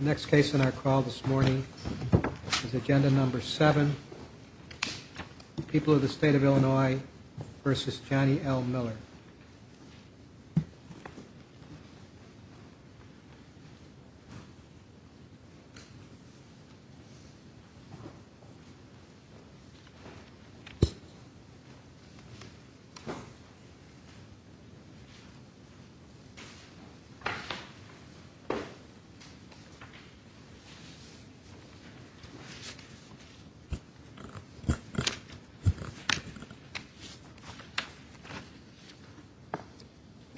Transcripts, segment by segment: Next case on our call this morning is agenda number seven. People of the State of Illinois v. Johnny L. Miller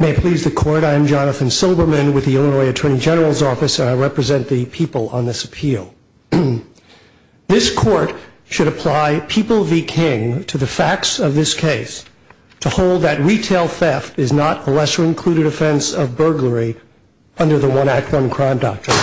May it please the court, I am Jonathan Silberman with the Illinois Attorney General's Office and I represent the people on this appeal. This court should apply People v. King to the facts of this case to hold that retail theft is not a lesser included offense of burglary under the One Act One Crime Doctrine.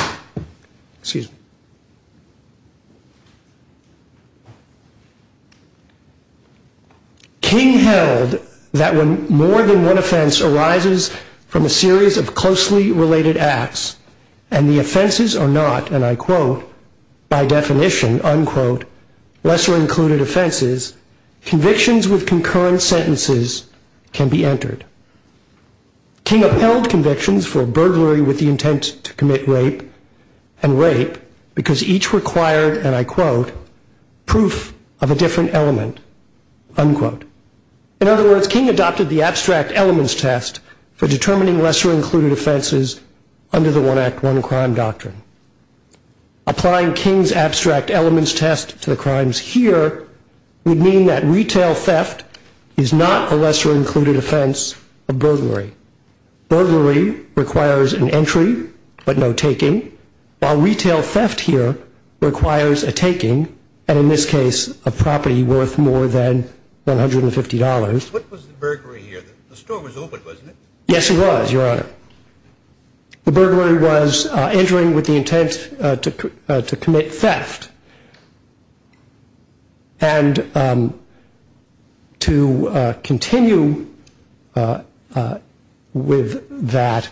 King held that when more than one offense arises from a series of closely related acts and the offenses are not, and I quote, by definition, unquote, lesser included offenses, convictions with concurrent sentences can be entered. King upheld convictions for burglary with the intent to commit rape and rape because each required, and I quote, proof of a different element, unquote. In other words, King adopted the abstract elements test for determining lesser included offenses under the One Act One Crime Doctrine. Applying King's abstract elements test to the crimes here would mean that retail theft is not a lesser included offense of burglary. Burglary requires an entry but no taking, while retail theft here requires a taking and in this case a property worth more than $150. What was the burglary here? The store was open, wasn't it? Yes, it was, Your Honor. The burglary was entering with the intent to commit theft and to continue with that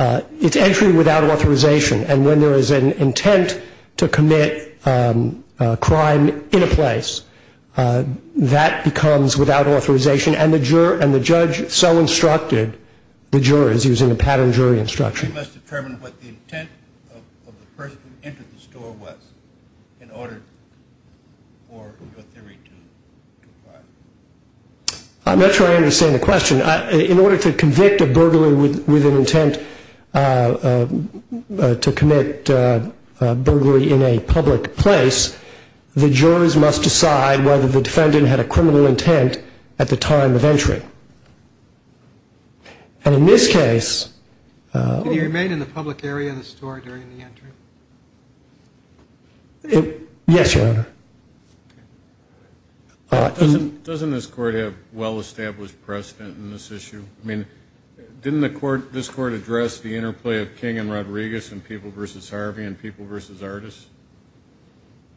it's entry without authorization and when there is an intent to commit a crime in a place that becomes without authorization and the judge so instructed the jurors using a pattern jury instruction. You must determine what the intent of the person who entered the store was in order for your theory to apply. I'm not sure I understand the question. In order to convict a burglary with an intent to commit burglary in a public place, the jurors must decide whether the defendant had a criminal intent at the time of entry and in this case... Did he remain in the public area of the store during the entry? Yes, Your Honor. Doesn't this court have well-established precedent in this issue? I mean, didn't this court address the interplay of King and Rodriguez and People v. Harvey and People v. Artists?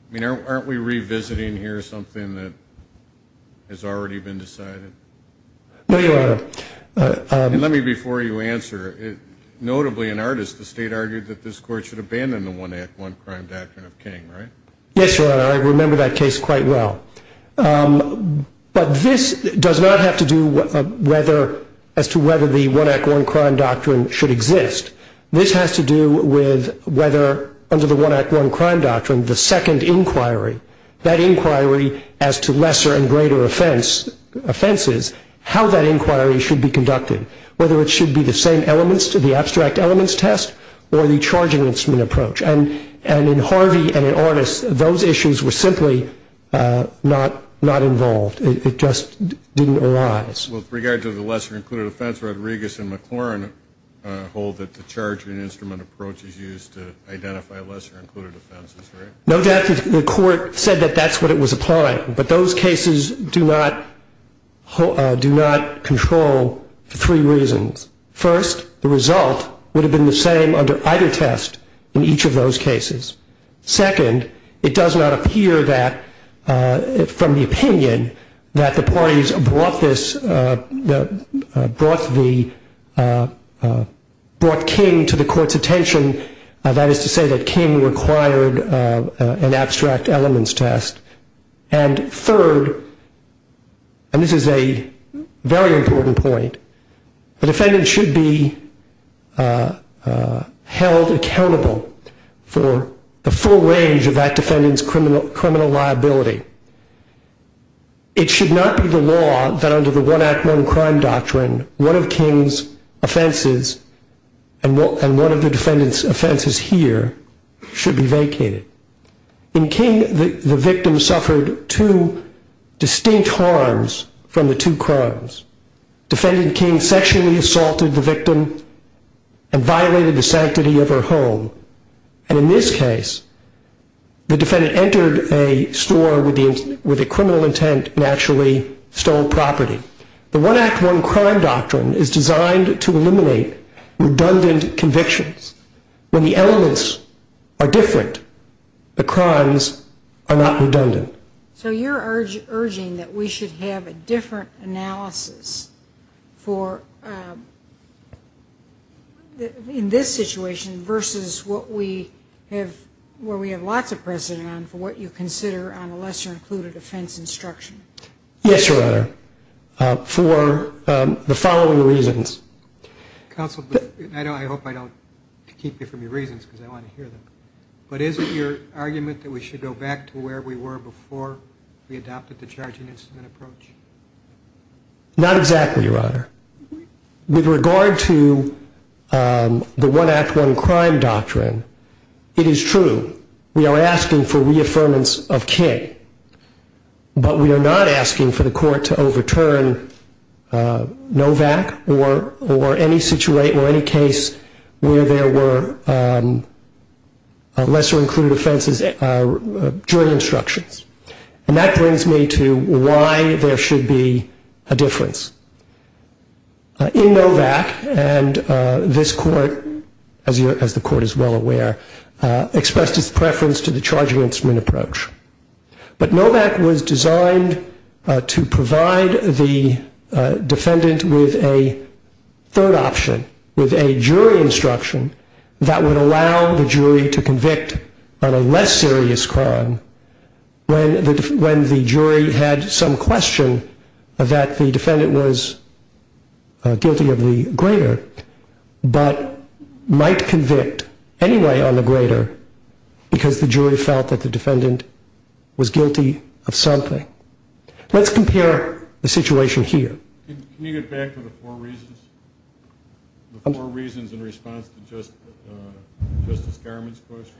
I mean, aren't we revisiting here something that has already been decided? No, Your Honor. Let me before you answer. Notably, in Artists, the State argued that this court should abandon the one act, one crime doctrine of King, right? Yes, Your Honor. I remember that case quite well. But this does not have to do as to whether the one act, one crime doctrine should exist. This has to do with whether under the one act, one crime doctrine, the second inquiry, that inquiry as to lesser and greater offenses, how that inquiry should be conducted, whether it should be the same elements to the abstract elements test or the charge enhancement approach. And in Harvey and in Artists, those issues were simply not involved. It just didn't arise. Well, with regard to the lesser included offense, Rodriguez and McLaurin hold that the charge and instrument approach is used to identify lesser included offenses, right? No doubt the court said that that's what it was applying. But those cases do not control for three reasons. First, the result would have been the same under either test in each of those cases. Second, it does not appear from the opinion that the parties brought King to the court's attention, that is to say that King required an abstract elements test. And third, and this is a very important point, the defendant should be held accountable for the full range of that defendant's criminal liability. It should not be the law that under the one act, one crime doctrine, one of King's offenses and one of the defendant's offenses here should be vacated. In King, the victim suffered two distinct harms from the two crimes. Defendant King sexually assaulted the victim and violated the sanctity of her home. And in this case, the defendant entered a store with a criminal intent and actually stole property. The one act, one crime doctrine is designed to eliminate redundant convictions. When the elements are different, the crimes are not redundant. So you're urging that we should have a different analysis in this situation versus what we have lots of precedent on for what you consider on a lesser included offense instruction. Yes, Your Honor, for the following reasons. Counsel, I hope I don't keep you from your reasons because I want to hear them. But is it your argument that we should go back to where we were before we adopted the charging instrument approach? Not exactly, Your Honor. With regard to the one act, one crime doctrine, it is true. We are asking for reaffirmance of King. But we are not asking for the court to overturn NOVAC or any situation or any case where there were lesser included offenses during instructions. And that brings me to why there should be a difference. In NOVAC, and this court, as the court is well aware, expressed its preference to the charging instrument approach. But NOVAC was designed to provide the defendant with a third option, with a jury instruction that would allow the jury to convict on a less serious crime when the jury had some question that the defendant was guilty of the greater but might convict anyway on the greater because the jury felt that the defendant was guilty of something. Let's compare the situation here. Can you get back to the four reasons in response to Justice Garment's question?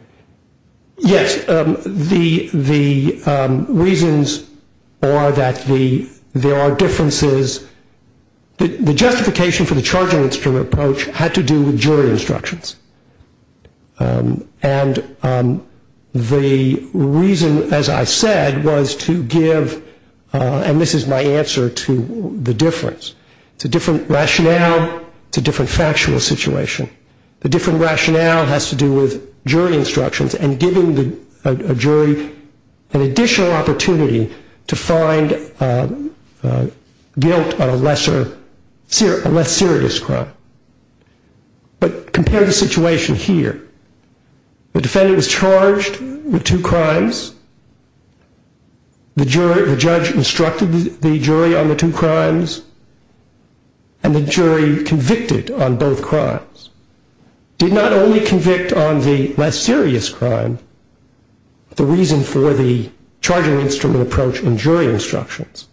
Yes. The reasons are that there are differences. The justification for the charging instrument approach had to do with jury instructions. And the reason, as I said, was to give, and this is my answer to the difference. It's a different rationale. It's a different factual situation. The different rationale has to do with jury instructions and giving a jury an additional opportunity to find guilt on a less serious crime. But compare the situation here. The defendant was charged with two crimes. And the jury convicted on both crimes. Did not only convict on the less serious crime, the reason for the charging instrument approach and jury instructions,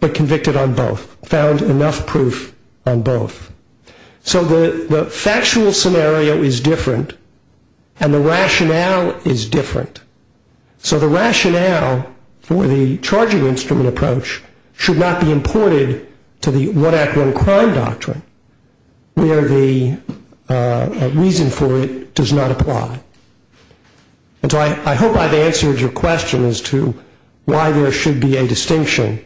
but convicted on both, found enough proof on both. So the factual scenario is different and the rationale is different. So the rationale for the charging instrument approach should not be imported to the one act, one crime doctrine, where the reason for it does not apply. And so I hope I've answered your question as to why there should be a distinction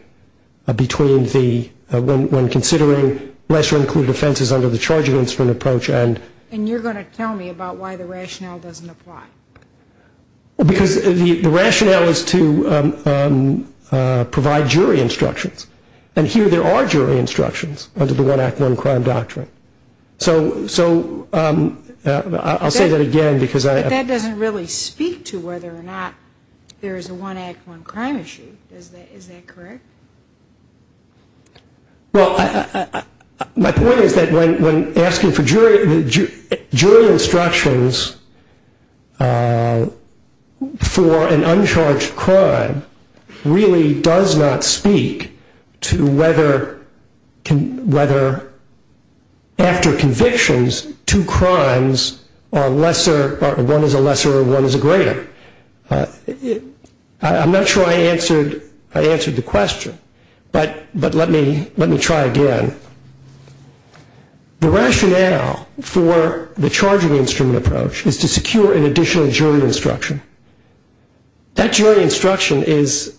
when considering lesser included offenses under the charging instrument approach. And you're going to tell me about why the rationale doesn't apply. Because the rationale is to provide jury instructions. And here there are jury instructions under the one act, one crime doctrine. So I'll say that again. But that doesn't really speak to whether or not there is a one act, one crime issue. Is that correct? Well, my point is that when asking for jury instructions for an uncharged crime, really does not speak to whether after convictions, two crimes are lesser or one is a lesser or one is a greater. I'm not sure I answered the question. But let me try again. The rationale for the charging instrument approach is to secure an additional jury instruction. That jury instruction is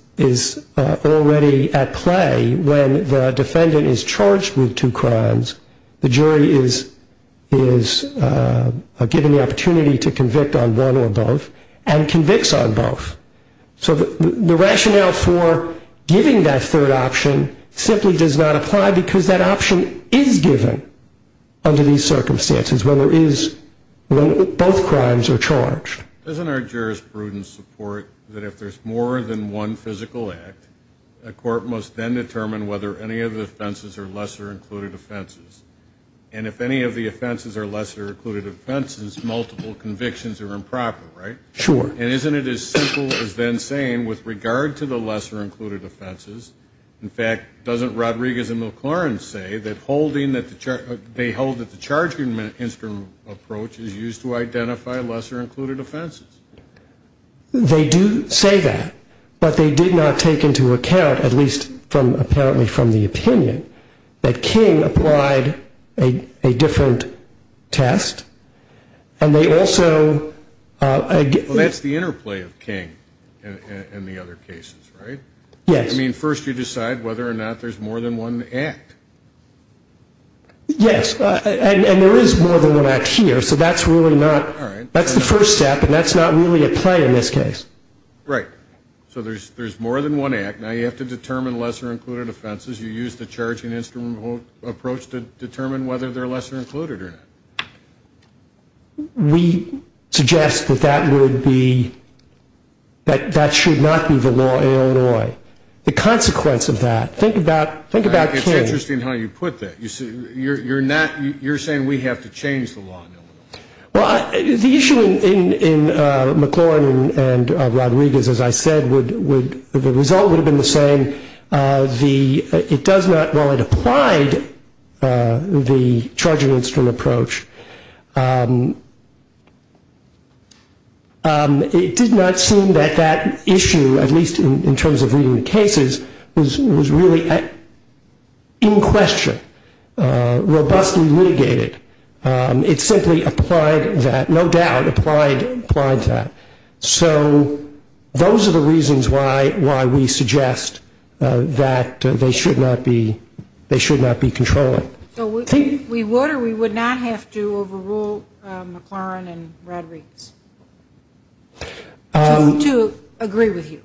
already at play when the defendant is charged with two crimes, the jury is given the opportunity to convict on one or both, and convicts on both. So the rationale for giving that third option simply does not apply because that option is given under these circumstances when both crimes are charged. Doesn't our jurisprudence support that if there's more than one physical act, a court must then determine whether any of the offenses are lesser included offenses? And if any of the offenses are lesser included offenses, multiple convictions are improper, right? Sure. And isn't it as simple as then saying with regard to the lesser included offenses, in fact, doesn't Rodriguez and McLaurin say that they hold that the charging instrument approach is used to identify lesser included offenses? They do say that. But they did not take into account, at least apparently from the opinion, that King applied a different test, and they also ---- Well, that's the interplay of King and the other cases, right? Yes. I mean, first you decide whether or not there's more than one act. Yes. And there is more than one act here. So that's really not ---- All right. That's the first step, and that's not really at play in this case. Right. So there's more than one act. Now you have to determine lesser included offenses. You use the charging instrument approach to determine whether they're lesser included or not. We suggest that that would be ---- that that should not be the law in Illinois. The consequence of that, think about King. It's interesting how you put that. You're saying we have to change the law in Illinois. Well, the issue in McLaurin and Rodriguez, as I said, would ---- the result would have been the same. It does not ---- while it applied the charging instrument approach, it did not seem that that issue, at least in terms of reading the cases, was really in question, robustly litigated. It simply applied that, no doubt applied that. So those are the reasons why we suggest that they should not be controlling. So we would or we would not have to overrule McLaurin and Rodriguez? To agree with you.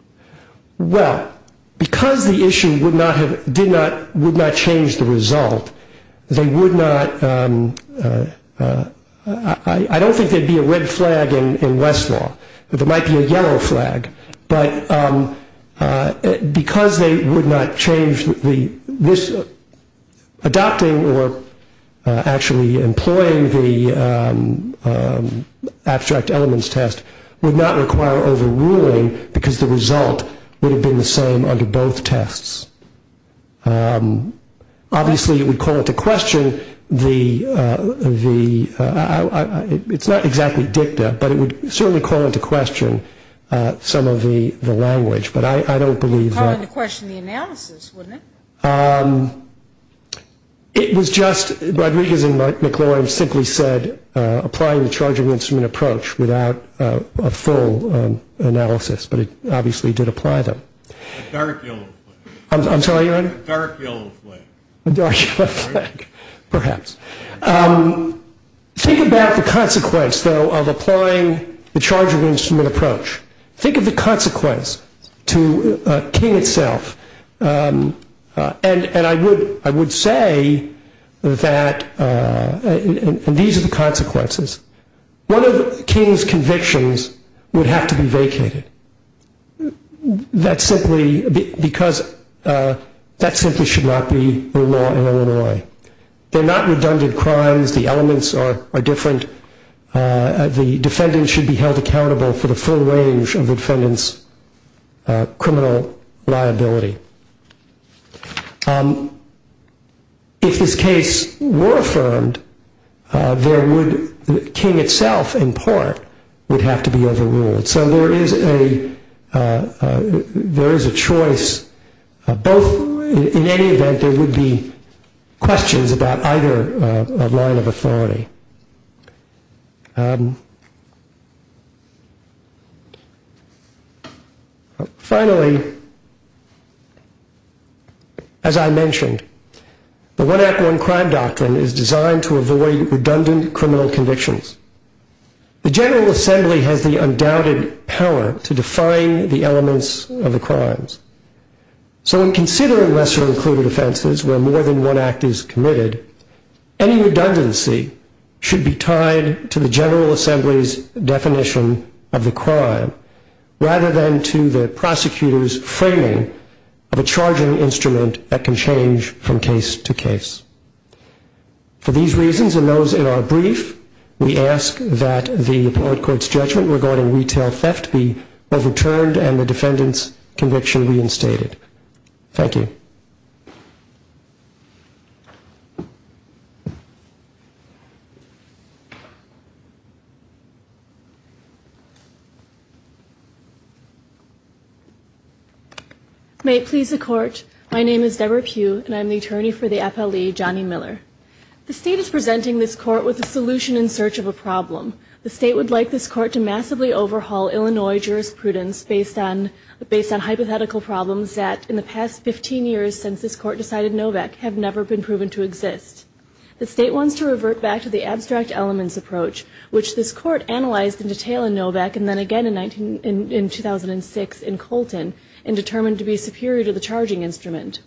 Well, because the issue would not have ---- did not ---- would not change the result, they would not ---- I don't think there would be a red flag in Westlaw. There might be a yellow flag. But because they would not change the ---- adopting or actually employing the abstract elements test would not require overruling because the result would have been the same under both tests. Obviously, it would call into question the ---- it's not exactly dicta, but it would certainly call into question some of the language. But I don't believe that ---- It would call into question the analysis, wouldn't it? It was just ---- Rodriguez and McLaurin simply said applying the charging instrument approach without a full analysis, but it obviously did apply them. A dark yellow flag. I'm sorry, your honor? A dark yellow flag. A dark yellow flag, perhaps. Think about the consequence, though, of applying the charging instrument approach. Think of the consequence to King itself. And I would say that ---- and these are the consequences. One of King's convictions would have to be vacated. That simply should not be the law in Illinois. They're not redundant crimes. The elements are different. The defendant should be held accountable for the full range of the defendant's criminal liability. If this case were affirmed, there would ---- King itself, in part, would have to be overruled. So there is a choice. In any event, there would be questions about either line of authority. Finally, as I mentioned, the One Act, One Crime doctrine is designed to avoid redundant criminal convictions. The General Assembly has the undoubted power to define the elements of the crimes. So in considering lesser-included offenses where more than one act is committed, any redundancy should be tied to the General Assembly's definition of the crime, rather than to the prosecutor's framing of a charging instrument that can change from case to case. For these reasons and those in our brief, we ask that the Court's judgment regarding retail theft be overturned and the defendant's conviction reinstated. Thank you. May it please the Court, my name is Deborah Pugh, and I'm the attorney for the FLE, Johnny Miller. The State is presenting this Court with a solution in search of a problem. The State would like this Court to massively overhaul Illinois jurisprudence based on hypothetical problems that in the past 15 years since this Court decided NOVAC have never been proven to exist. The State wants to revert back to the abstract elements approach, which this Court analyzed in detail in NOVAC and then again in 2006 in Colton and determined to be superior to the charging instrument.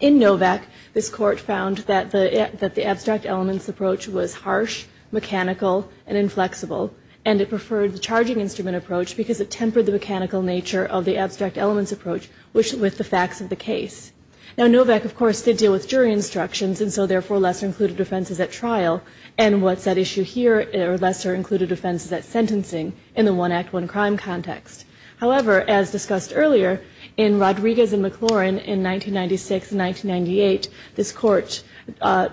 In NOVAC, this Court found that the abstract elements approach was harsh, mechanical, and inflexible, and it preferred the charging instrument approach because it tempered the mechanical nature of the abstract elements approach with the facts of the case. Now, NOVAC, of course, did deal with jury instructions and so therefore lesser included offenses at trial and what's at issue here are lesser included offenses at sentencing in the one act, one crime context. However, as discussed earlier, in Rodriguez and McLaurin in 1996 and 1998, this Court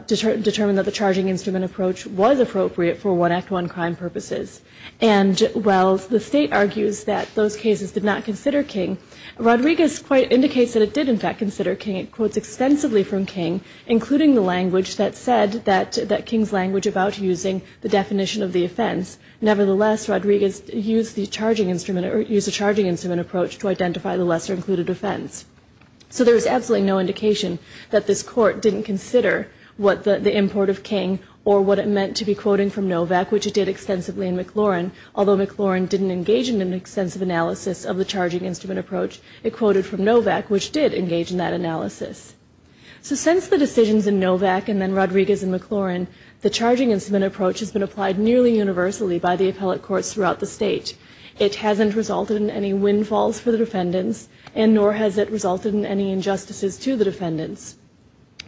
determined that the charging instrument approach was appropriate for one act, one crime purposes. And while the State argues that those cases did not consider King, Rodriguez quite indicates that it did, in fact, consider King. It quotes extensively from King, including the language that said that King's language about using the definition of the offense. Nevertheless, Rodriguez used the charging instrument or used the charging instrument approach to identify the lesser included offense. So there is absolutely no indication that this Court didn't consider what the import of King or what it meant to be quoting from NOVAC, which it did extensively in McLaurin. Although McLaurin didn't engage in an extensive analysis of the charging instrument approach, it quoted from NOVAC, which did engage in that analysis. So since the decisions in NOVAC and then Rodriguez and McLaurin, the charging instrument approach has been applied nearly universally by the appellate courts throughout the State. It hasn't resulted in any windfalls for the defendants and nor has it resulted in any injustices to the defendants.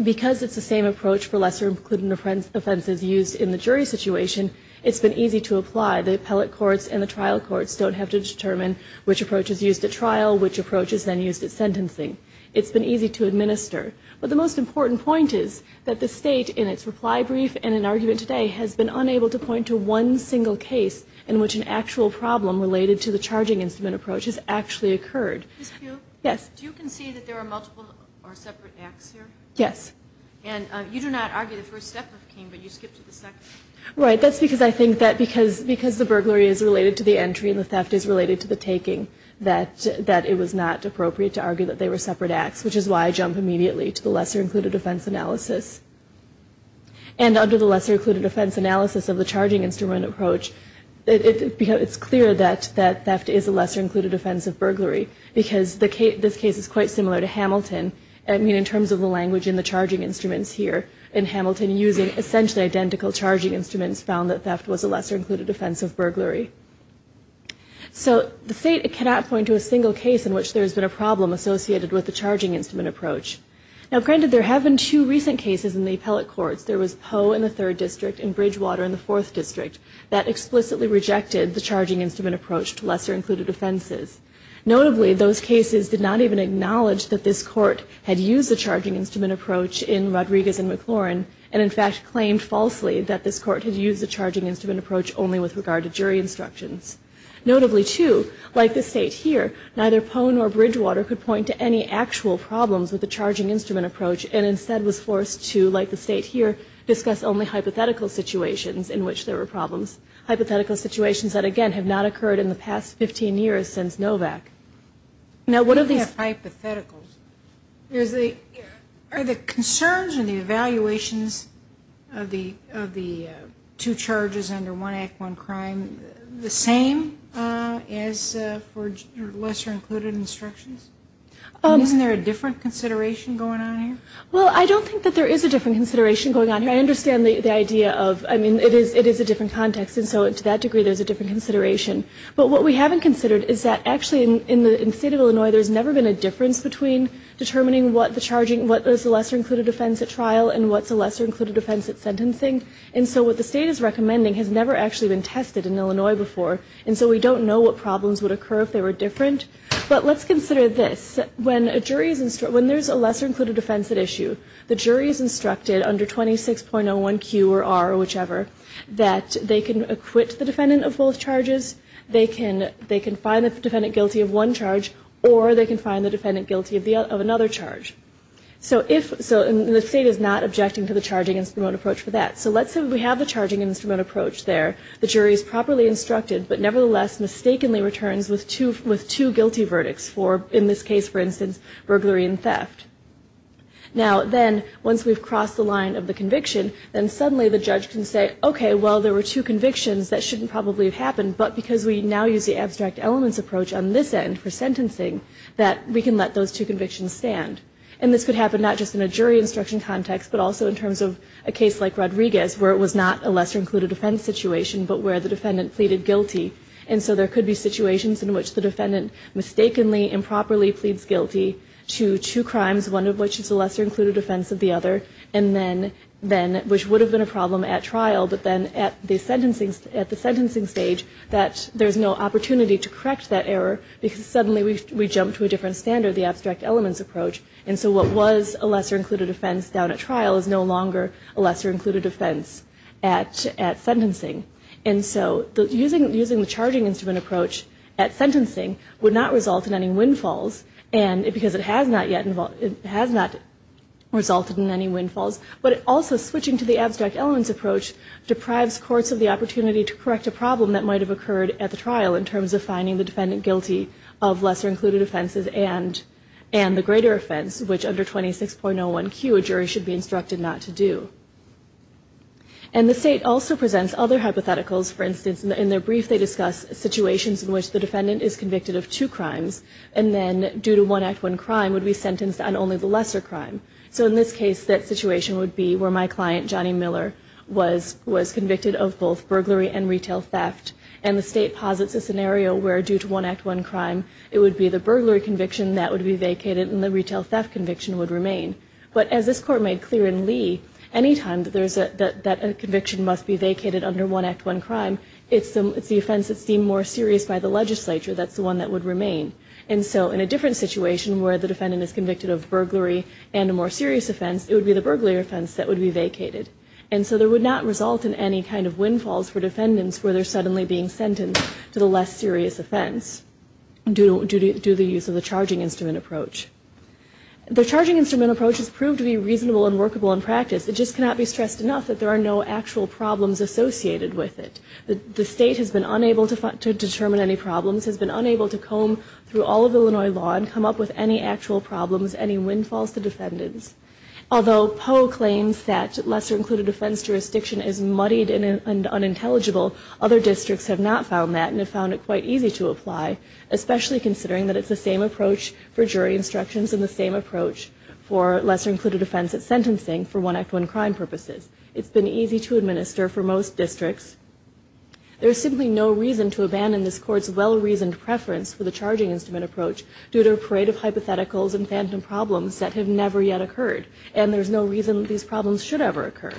Because it's the same approach for lesser included offenses used in the jury situation, it's been easy to apply. The appellate courts and the trial courts don't have to determine which approach is used at trial, which approach is then used at sentencing. It's been easy to administer. But the most important point is that the State in its reply brief and in argument today has been unable to point to one single case in which an actual problem related to the charging instrument approach has actually occurred. Ms. Pugh? Yes. Do you concede that there are multiple or separate acts here? Yes. And you do not argue the first step of King, but you skip to the second. Right. That's because I think that because the burglary is related to the entry and the theft is related to the taking, that it was not appropriate to argue that they were separate acts, which is why I jump immediately to the lesser included offense analysis. And under the lesser included offense analysis of the charging instrument approach, it's clear that theft is a lesser included offense of burglary because this case is quite similar to Hamilton. I mean, in terms of the language in the charging instruments here, in Hamilton using essentially identical charging instruments, found that theft was a lesser included offense of burglary. So the State cannot point to a single case in which there has been a problem associated with the charging instrument approach. Now, granted, there have been two recent cases in the appellate courts. There was Poe in the third district and Bridgewater in the fourth district that explicitly rejected the charging instrument approach to lesser included offenses. Notably, those cases did not even acknowledge that this Court had used the charging instrument approach in Rodriguez and McLaurin and, in fact, claimed falsely that this Court had used the charging instrument approach only with regard to jury instructions. Notably, too, like the State here, neither Poe nor Bridgewater could point to any actual problems with the charging instrument approach and instead was forced to, like the State here, discuss only hypothetical situations in which there were problems, hypothetical situations that, again, have not occurred in the past 15 years since Novak. Now, what are these hypotheticals? Are the concerns and the evaluations of the two charges under one act, one crime, the same as for lesser included instructions? Isn't there a different consideration going on here? Well, I don't think that there is a different consideration going on here. I understand the idea of, I mean, it is a different context, and so to that degree there is a different consideration. But what we haven't considered is that actually in the State of Illinois there has never been a difference between determining what the charging, what is a lesser included offense at trial and what is a lesser included offense at sentencing. And so what the State is recommending has never actually been tested in Illinois before, and so we don't know what problems would occur if they were different. But let's consider this. When there is a lesser included offense at issue, the jury is instructed under 26.01Q or R or whichever that they can acquit the defendant of both charges, they can find the defendant guilty of one charge, or they can find the defendant guilty of another charge. So the State is not objecting to the charging instrument approach for that. So let's say we have the charging instrument approach there. The jury is properly instructed, but nevertheless mistakenly returns with two guilty verdicts for, in this case, for instance, burglary and theft. Now then, once we've crossed the line of the conviction, then suddenly the judge can say, okay, well, there were two convictions. That shouldn't probably have happened, but because we now use the abstract elements approach on this end for sentencing, that we can let those two convictions stand. And this could happen not just in a jury instruction context, but also in terms of a case like Rodriguez, where it was not a lesser included offense situation, but where the defendant pleaded guilty. And so there could be situations in which the defendant mistakenly improperly pleads guilty to two crimes, one of which is a lesser included offense of the other, which would have been a problem at trial, but then at the sentencing stage that there's no opportunity to correct that error because suddenly we jump to a different standard, the abstract elements approach. And so what was a lesser included offense down at trial is no longer a lesser included offense at sentencing. And so using the charging instrument approach at sentencing would not result in any windfalls, because it has not resulted in any windfalls, but also switching to the abstract elements approach deprives courts of the opportunity to correct a problem that might have occurred at the trial in terms of finding the defendant guilty of lesser included offenses and the greater offense, which under 26.01Q, a jury should be instructed not to do. And the state also presents other hypotheticals. For instance, in their brief, they discuss situations in which the defendant is convicted of two crimes, and then due to one act, one crime, would be sentenced on only the lesser crime. So in this case, that situation would be where my client, Johnny Miller, was convicted of both burglary and retail theft, and the state posits a scenario where due to one act, one crime, it would be the burglary conviction that would be vacated and the retail theft conviction would remain. But as this court made clear in Lee, any time that a conviction must be vacated under one act, one crime, it's the offense that's deemed more serious by the legislature that's the one that would remain. And so in a different situation where the defendant is convicted of burglary and a more serious offense, it would be the burglary offense that would be vacated. And so there would not result in any kind of windfalls for defendants where they're suddenly being sentenced to the less serious offense due to the use of the charging instrument approach. The charging instrument approach has proved to be reasonable and workable in practice. It just cannot be stressed enough that there are no actual problems associated with it. The state has been unable to determine any problems, has been unable to comb through all of Illinois law and come up with any actual problems, any windfalls to defendants. Although Poe claims that lesser included offense jurisdiction is muddied and unintelligible, other districts have not found that and have found it quite easy to apply, especially considering that it's the same approach for jury instructions and the same approach for lesser included offense at sentencing for one act, one crime purposes. It's been easy to administer for most districts. There's simply no reason to abandon this Court's well-reasoned preference for the charging instrument approach due to a parade of hypotheticals and phantom problems that have never yet occurred, and there's no reason that these problems should ever occur.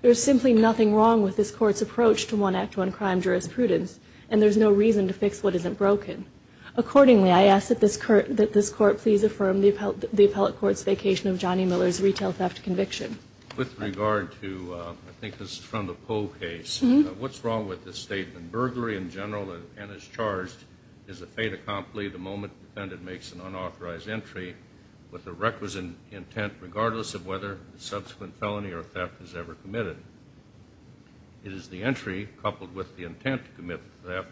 There's simply nothing wrong with this Court's approach to one act, one crime jurisprudence, and there's no reason to fix what isn't broken. Accordingly, I ask that this Court please affirm the appellate court's vacation of Johnny Miller's retail theft conviction. With regard to, I think this is from the Poe case, what's wrong with this statement? Burglary in general and as charged is a fait accompli the moment the defendant makes an unauthorized entry with the requisite intent regardless of whether the subsequent felony or theft is ever committed. It is the entry coupled with the intent to commit the theft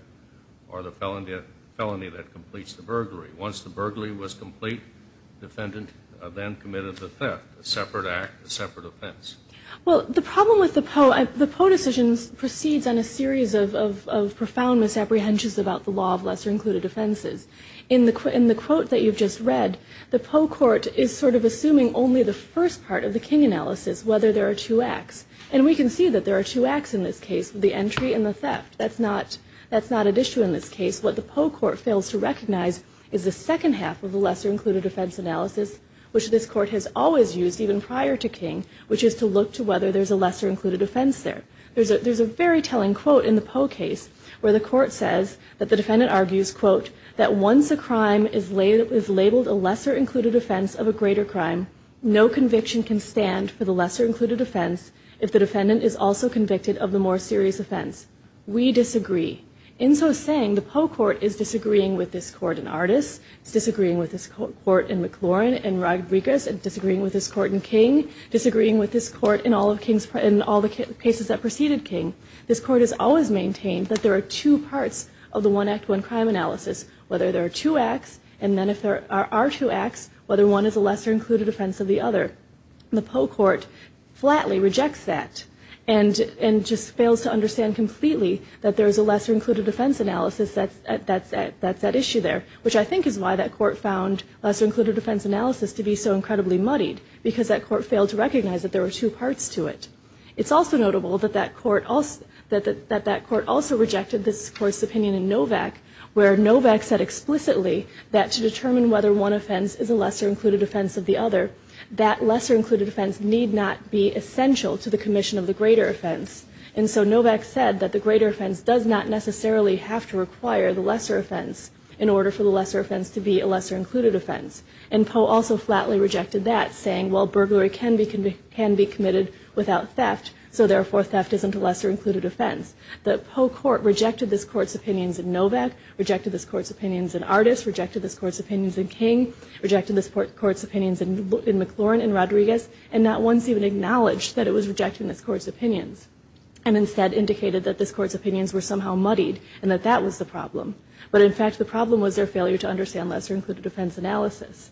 or the felony that completes the burglary. Once the burglary was complete, the defendant then committed the theft, a separate act, a separate offense. Well, the problem with the Poe, the Poe decision proceeds on a series of profound misapprehensions about the law of lesser included offenses. In the quote that you've just read, the Poe court is sort of assuming only the first part of the King analysis, whether there are two acts. And we can see that there are two acts in this case, the entry and the theft. That's not an issue in this case. What the Poe court fails to recognize is the second half of the lesser included offense analysis, which this court has always used even prior to King, which is to look to whether there's a lesser included offense there. There's a very telling quote in the Poe case where the court says that the defendant argues, quote, that once a crime is labeled a lesser included offense of a greater crime, no conviction can stand for the lesser included offense if the defendant is also convicted of the more serious offense. We disagree. In so saying, the Poe court is disagreeing with this court in Artis, it's disagreeing with this court in McLaurin and Rodriguez, it's disagreeing with this court in King, disagreeing with this court in all the cases that preceded King. This court has always maintained that there are two parts of the one act, one crime analysis, whether there are two acts, and then if there are two acts, whether one is a lesser included offense of the other. The Poe court flatly rejects that and just fails to understand completely that there is a lesser included offense analysis that's at issue there, which I think is why that court found lesser included offense analysis to be so incredibly muddied because that court failed to recognize that there were two parts to it. It's also notable that that court also rejected this court's opinion in Novak where Novak said explicitly that to determine whether one offense is a lesser included offense of the other, that lesser included offense need not be essential to the commission of the greater offense. And so Novak said that the greater offense does not necessarily have to require the lesser offense in order for the lesser offense to be a lesser included offense. And Poe also flatly rejected that, saying, well, burglary can be committed without theft, so therefore theft isn't a lesser included offense. The Poe court rejected this court's opinions in Novak, rejected this court's opinions in Artis, rejected this court's opinions in King, rejected this court's opinions in McLaurin and Rodriguez, and not once even acknowledged that it was rejecting this court's opinions and instead indicated that this court's opinions were somehow muddied and that that was the problem. But in fact, the problem was their failure to understand lesser included offense analysis.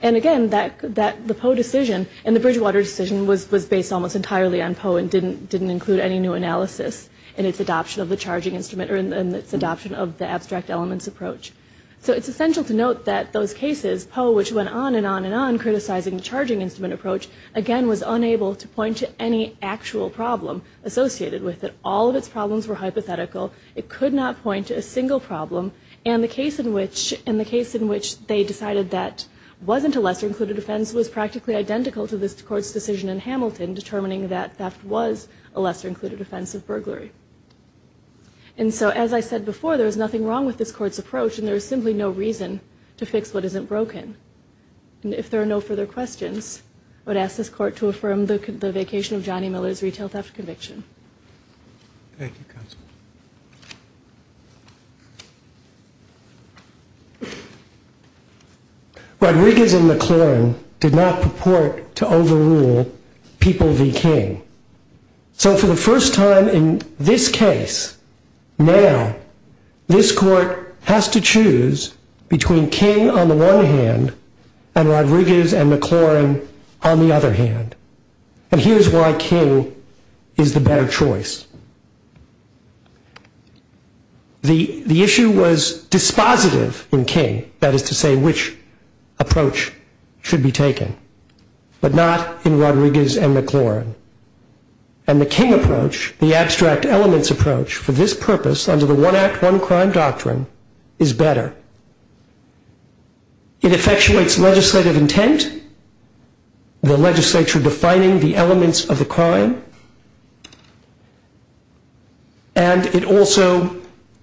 And again, the Poe decision and the Bridgewater decision was based almost entirely on Poe and didn't include any new analysis in its adoption of the charging instrument or in its adoption of the abstract elements approach. So it's essential to note that those cases, Poe, which went on and on and on, criticizing the charging instrument approach, again was unable to point to any actual problem associated with it. All of its problems were hypothetical. It could not point to a single problem. And the case in which they decided that wasn't a lesser included offense was practically identical to this court's decision in Hamilton determining that that was a lesser included offense of burglary. And so, as I said before, there is nothing wrong with this court's approach and there is simply no reason to fix what isn't broken. And if there are no further questions, I would ask this court to affirm the vacation of Johnny Miller's retail theft conviction. Thank you, counsel. Rodriguez and McLaurin did not purport to overrule People v. King. So for the first time in this case, now this court has to choose between King on the one hand and Rodriguez and McLaurin on the other hand. And here's why King is the better choice. The issue was dispositive in King, that is to say, which approach should be taken, but not in Rodriguez and McLaurin. And the King approach, the abstract elements approach, for this purpose under the one act, one crime doctrine, is better. It effectuates legislative intent. The legislature defining the elements of the crime. And it also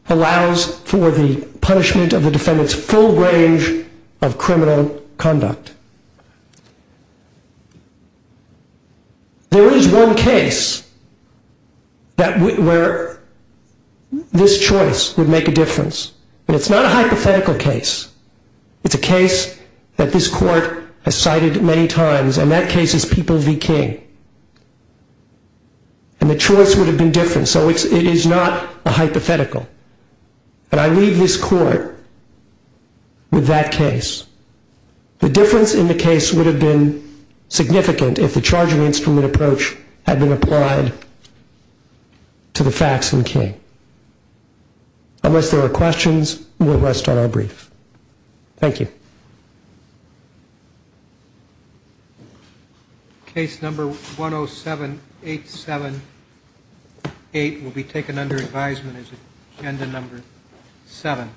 allows for the punishment of the defendant's full range of criminal conduct. There is one case where this choice would make a difference. And it's not a hypothetical case. It's a case that this court has cited many times, and that case is People v. King. And the choice would have been different, so it is not a hypothetical. And I leave this court with that case. The difference in the case would have been significant if the charging instrument approach had been applied to the facts in King. Unless there are questions, we'll rest on our brief. Thank you. Case number 107878 will be taken under advisement as agenda number 7.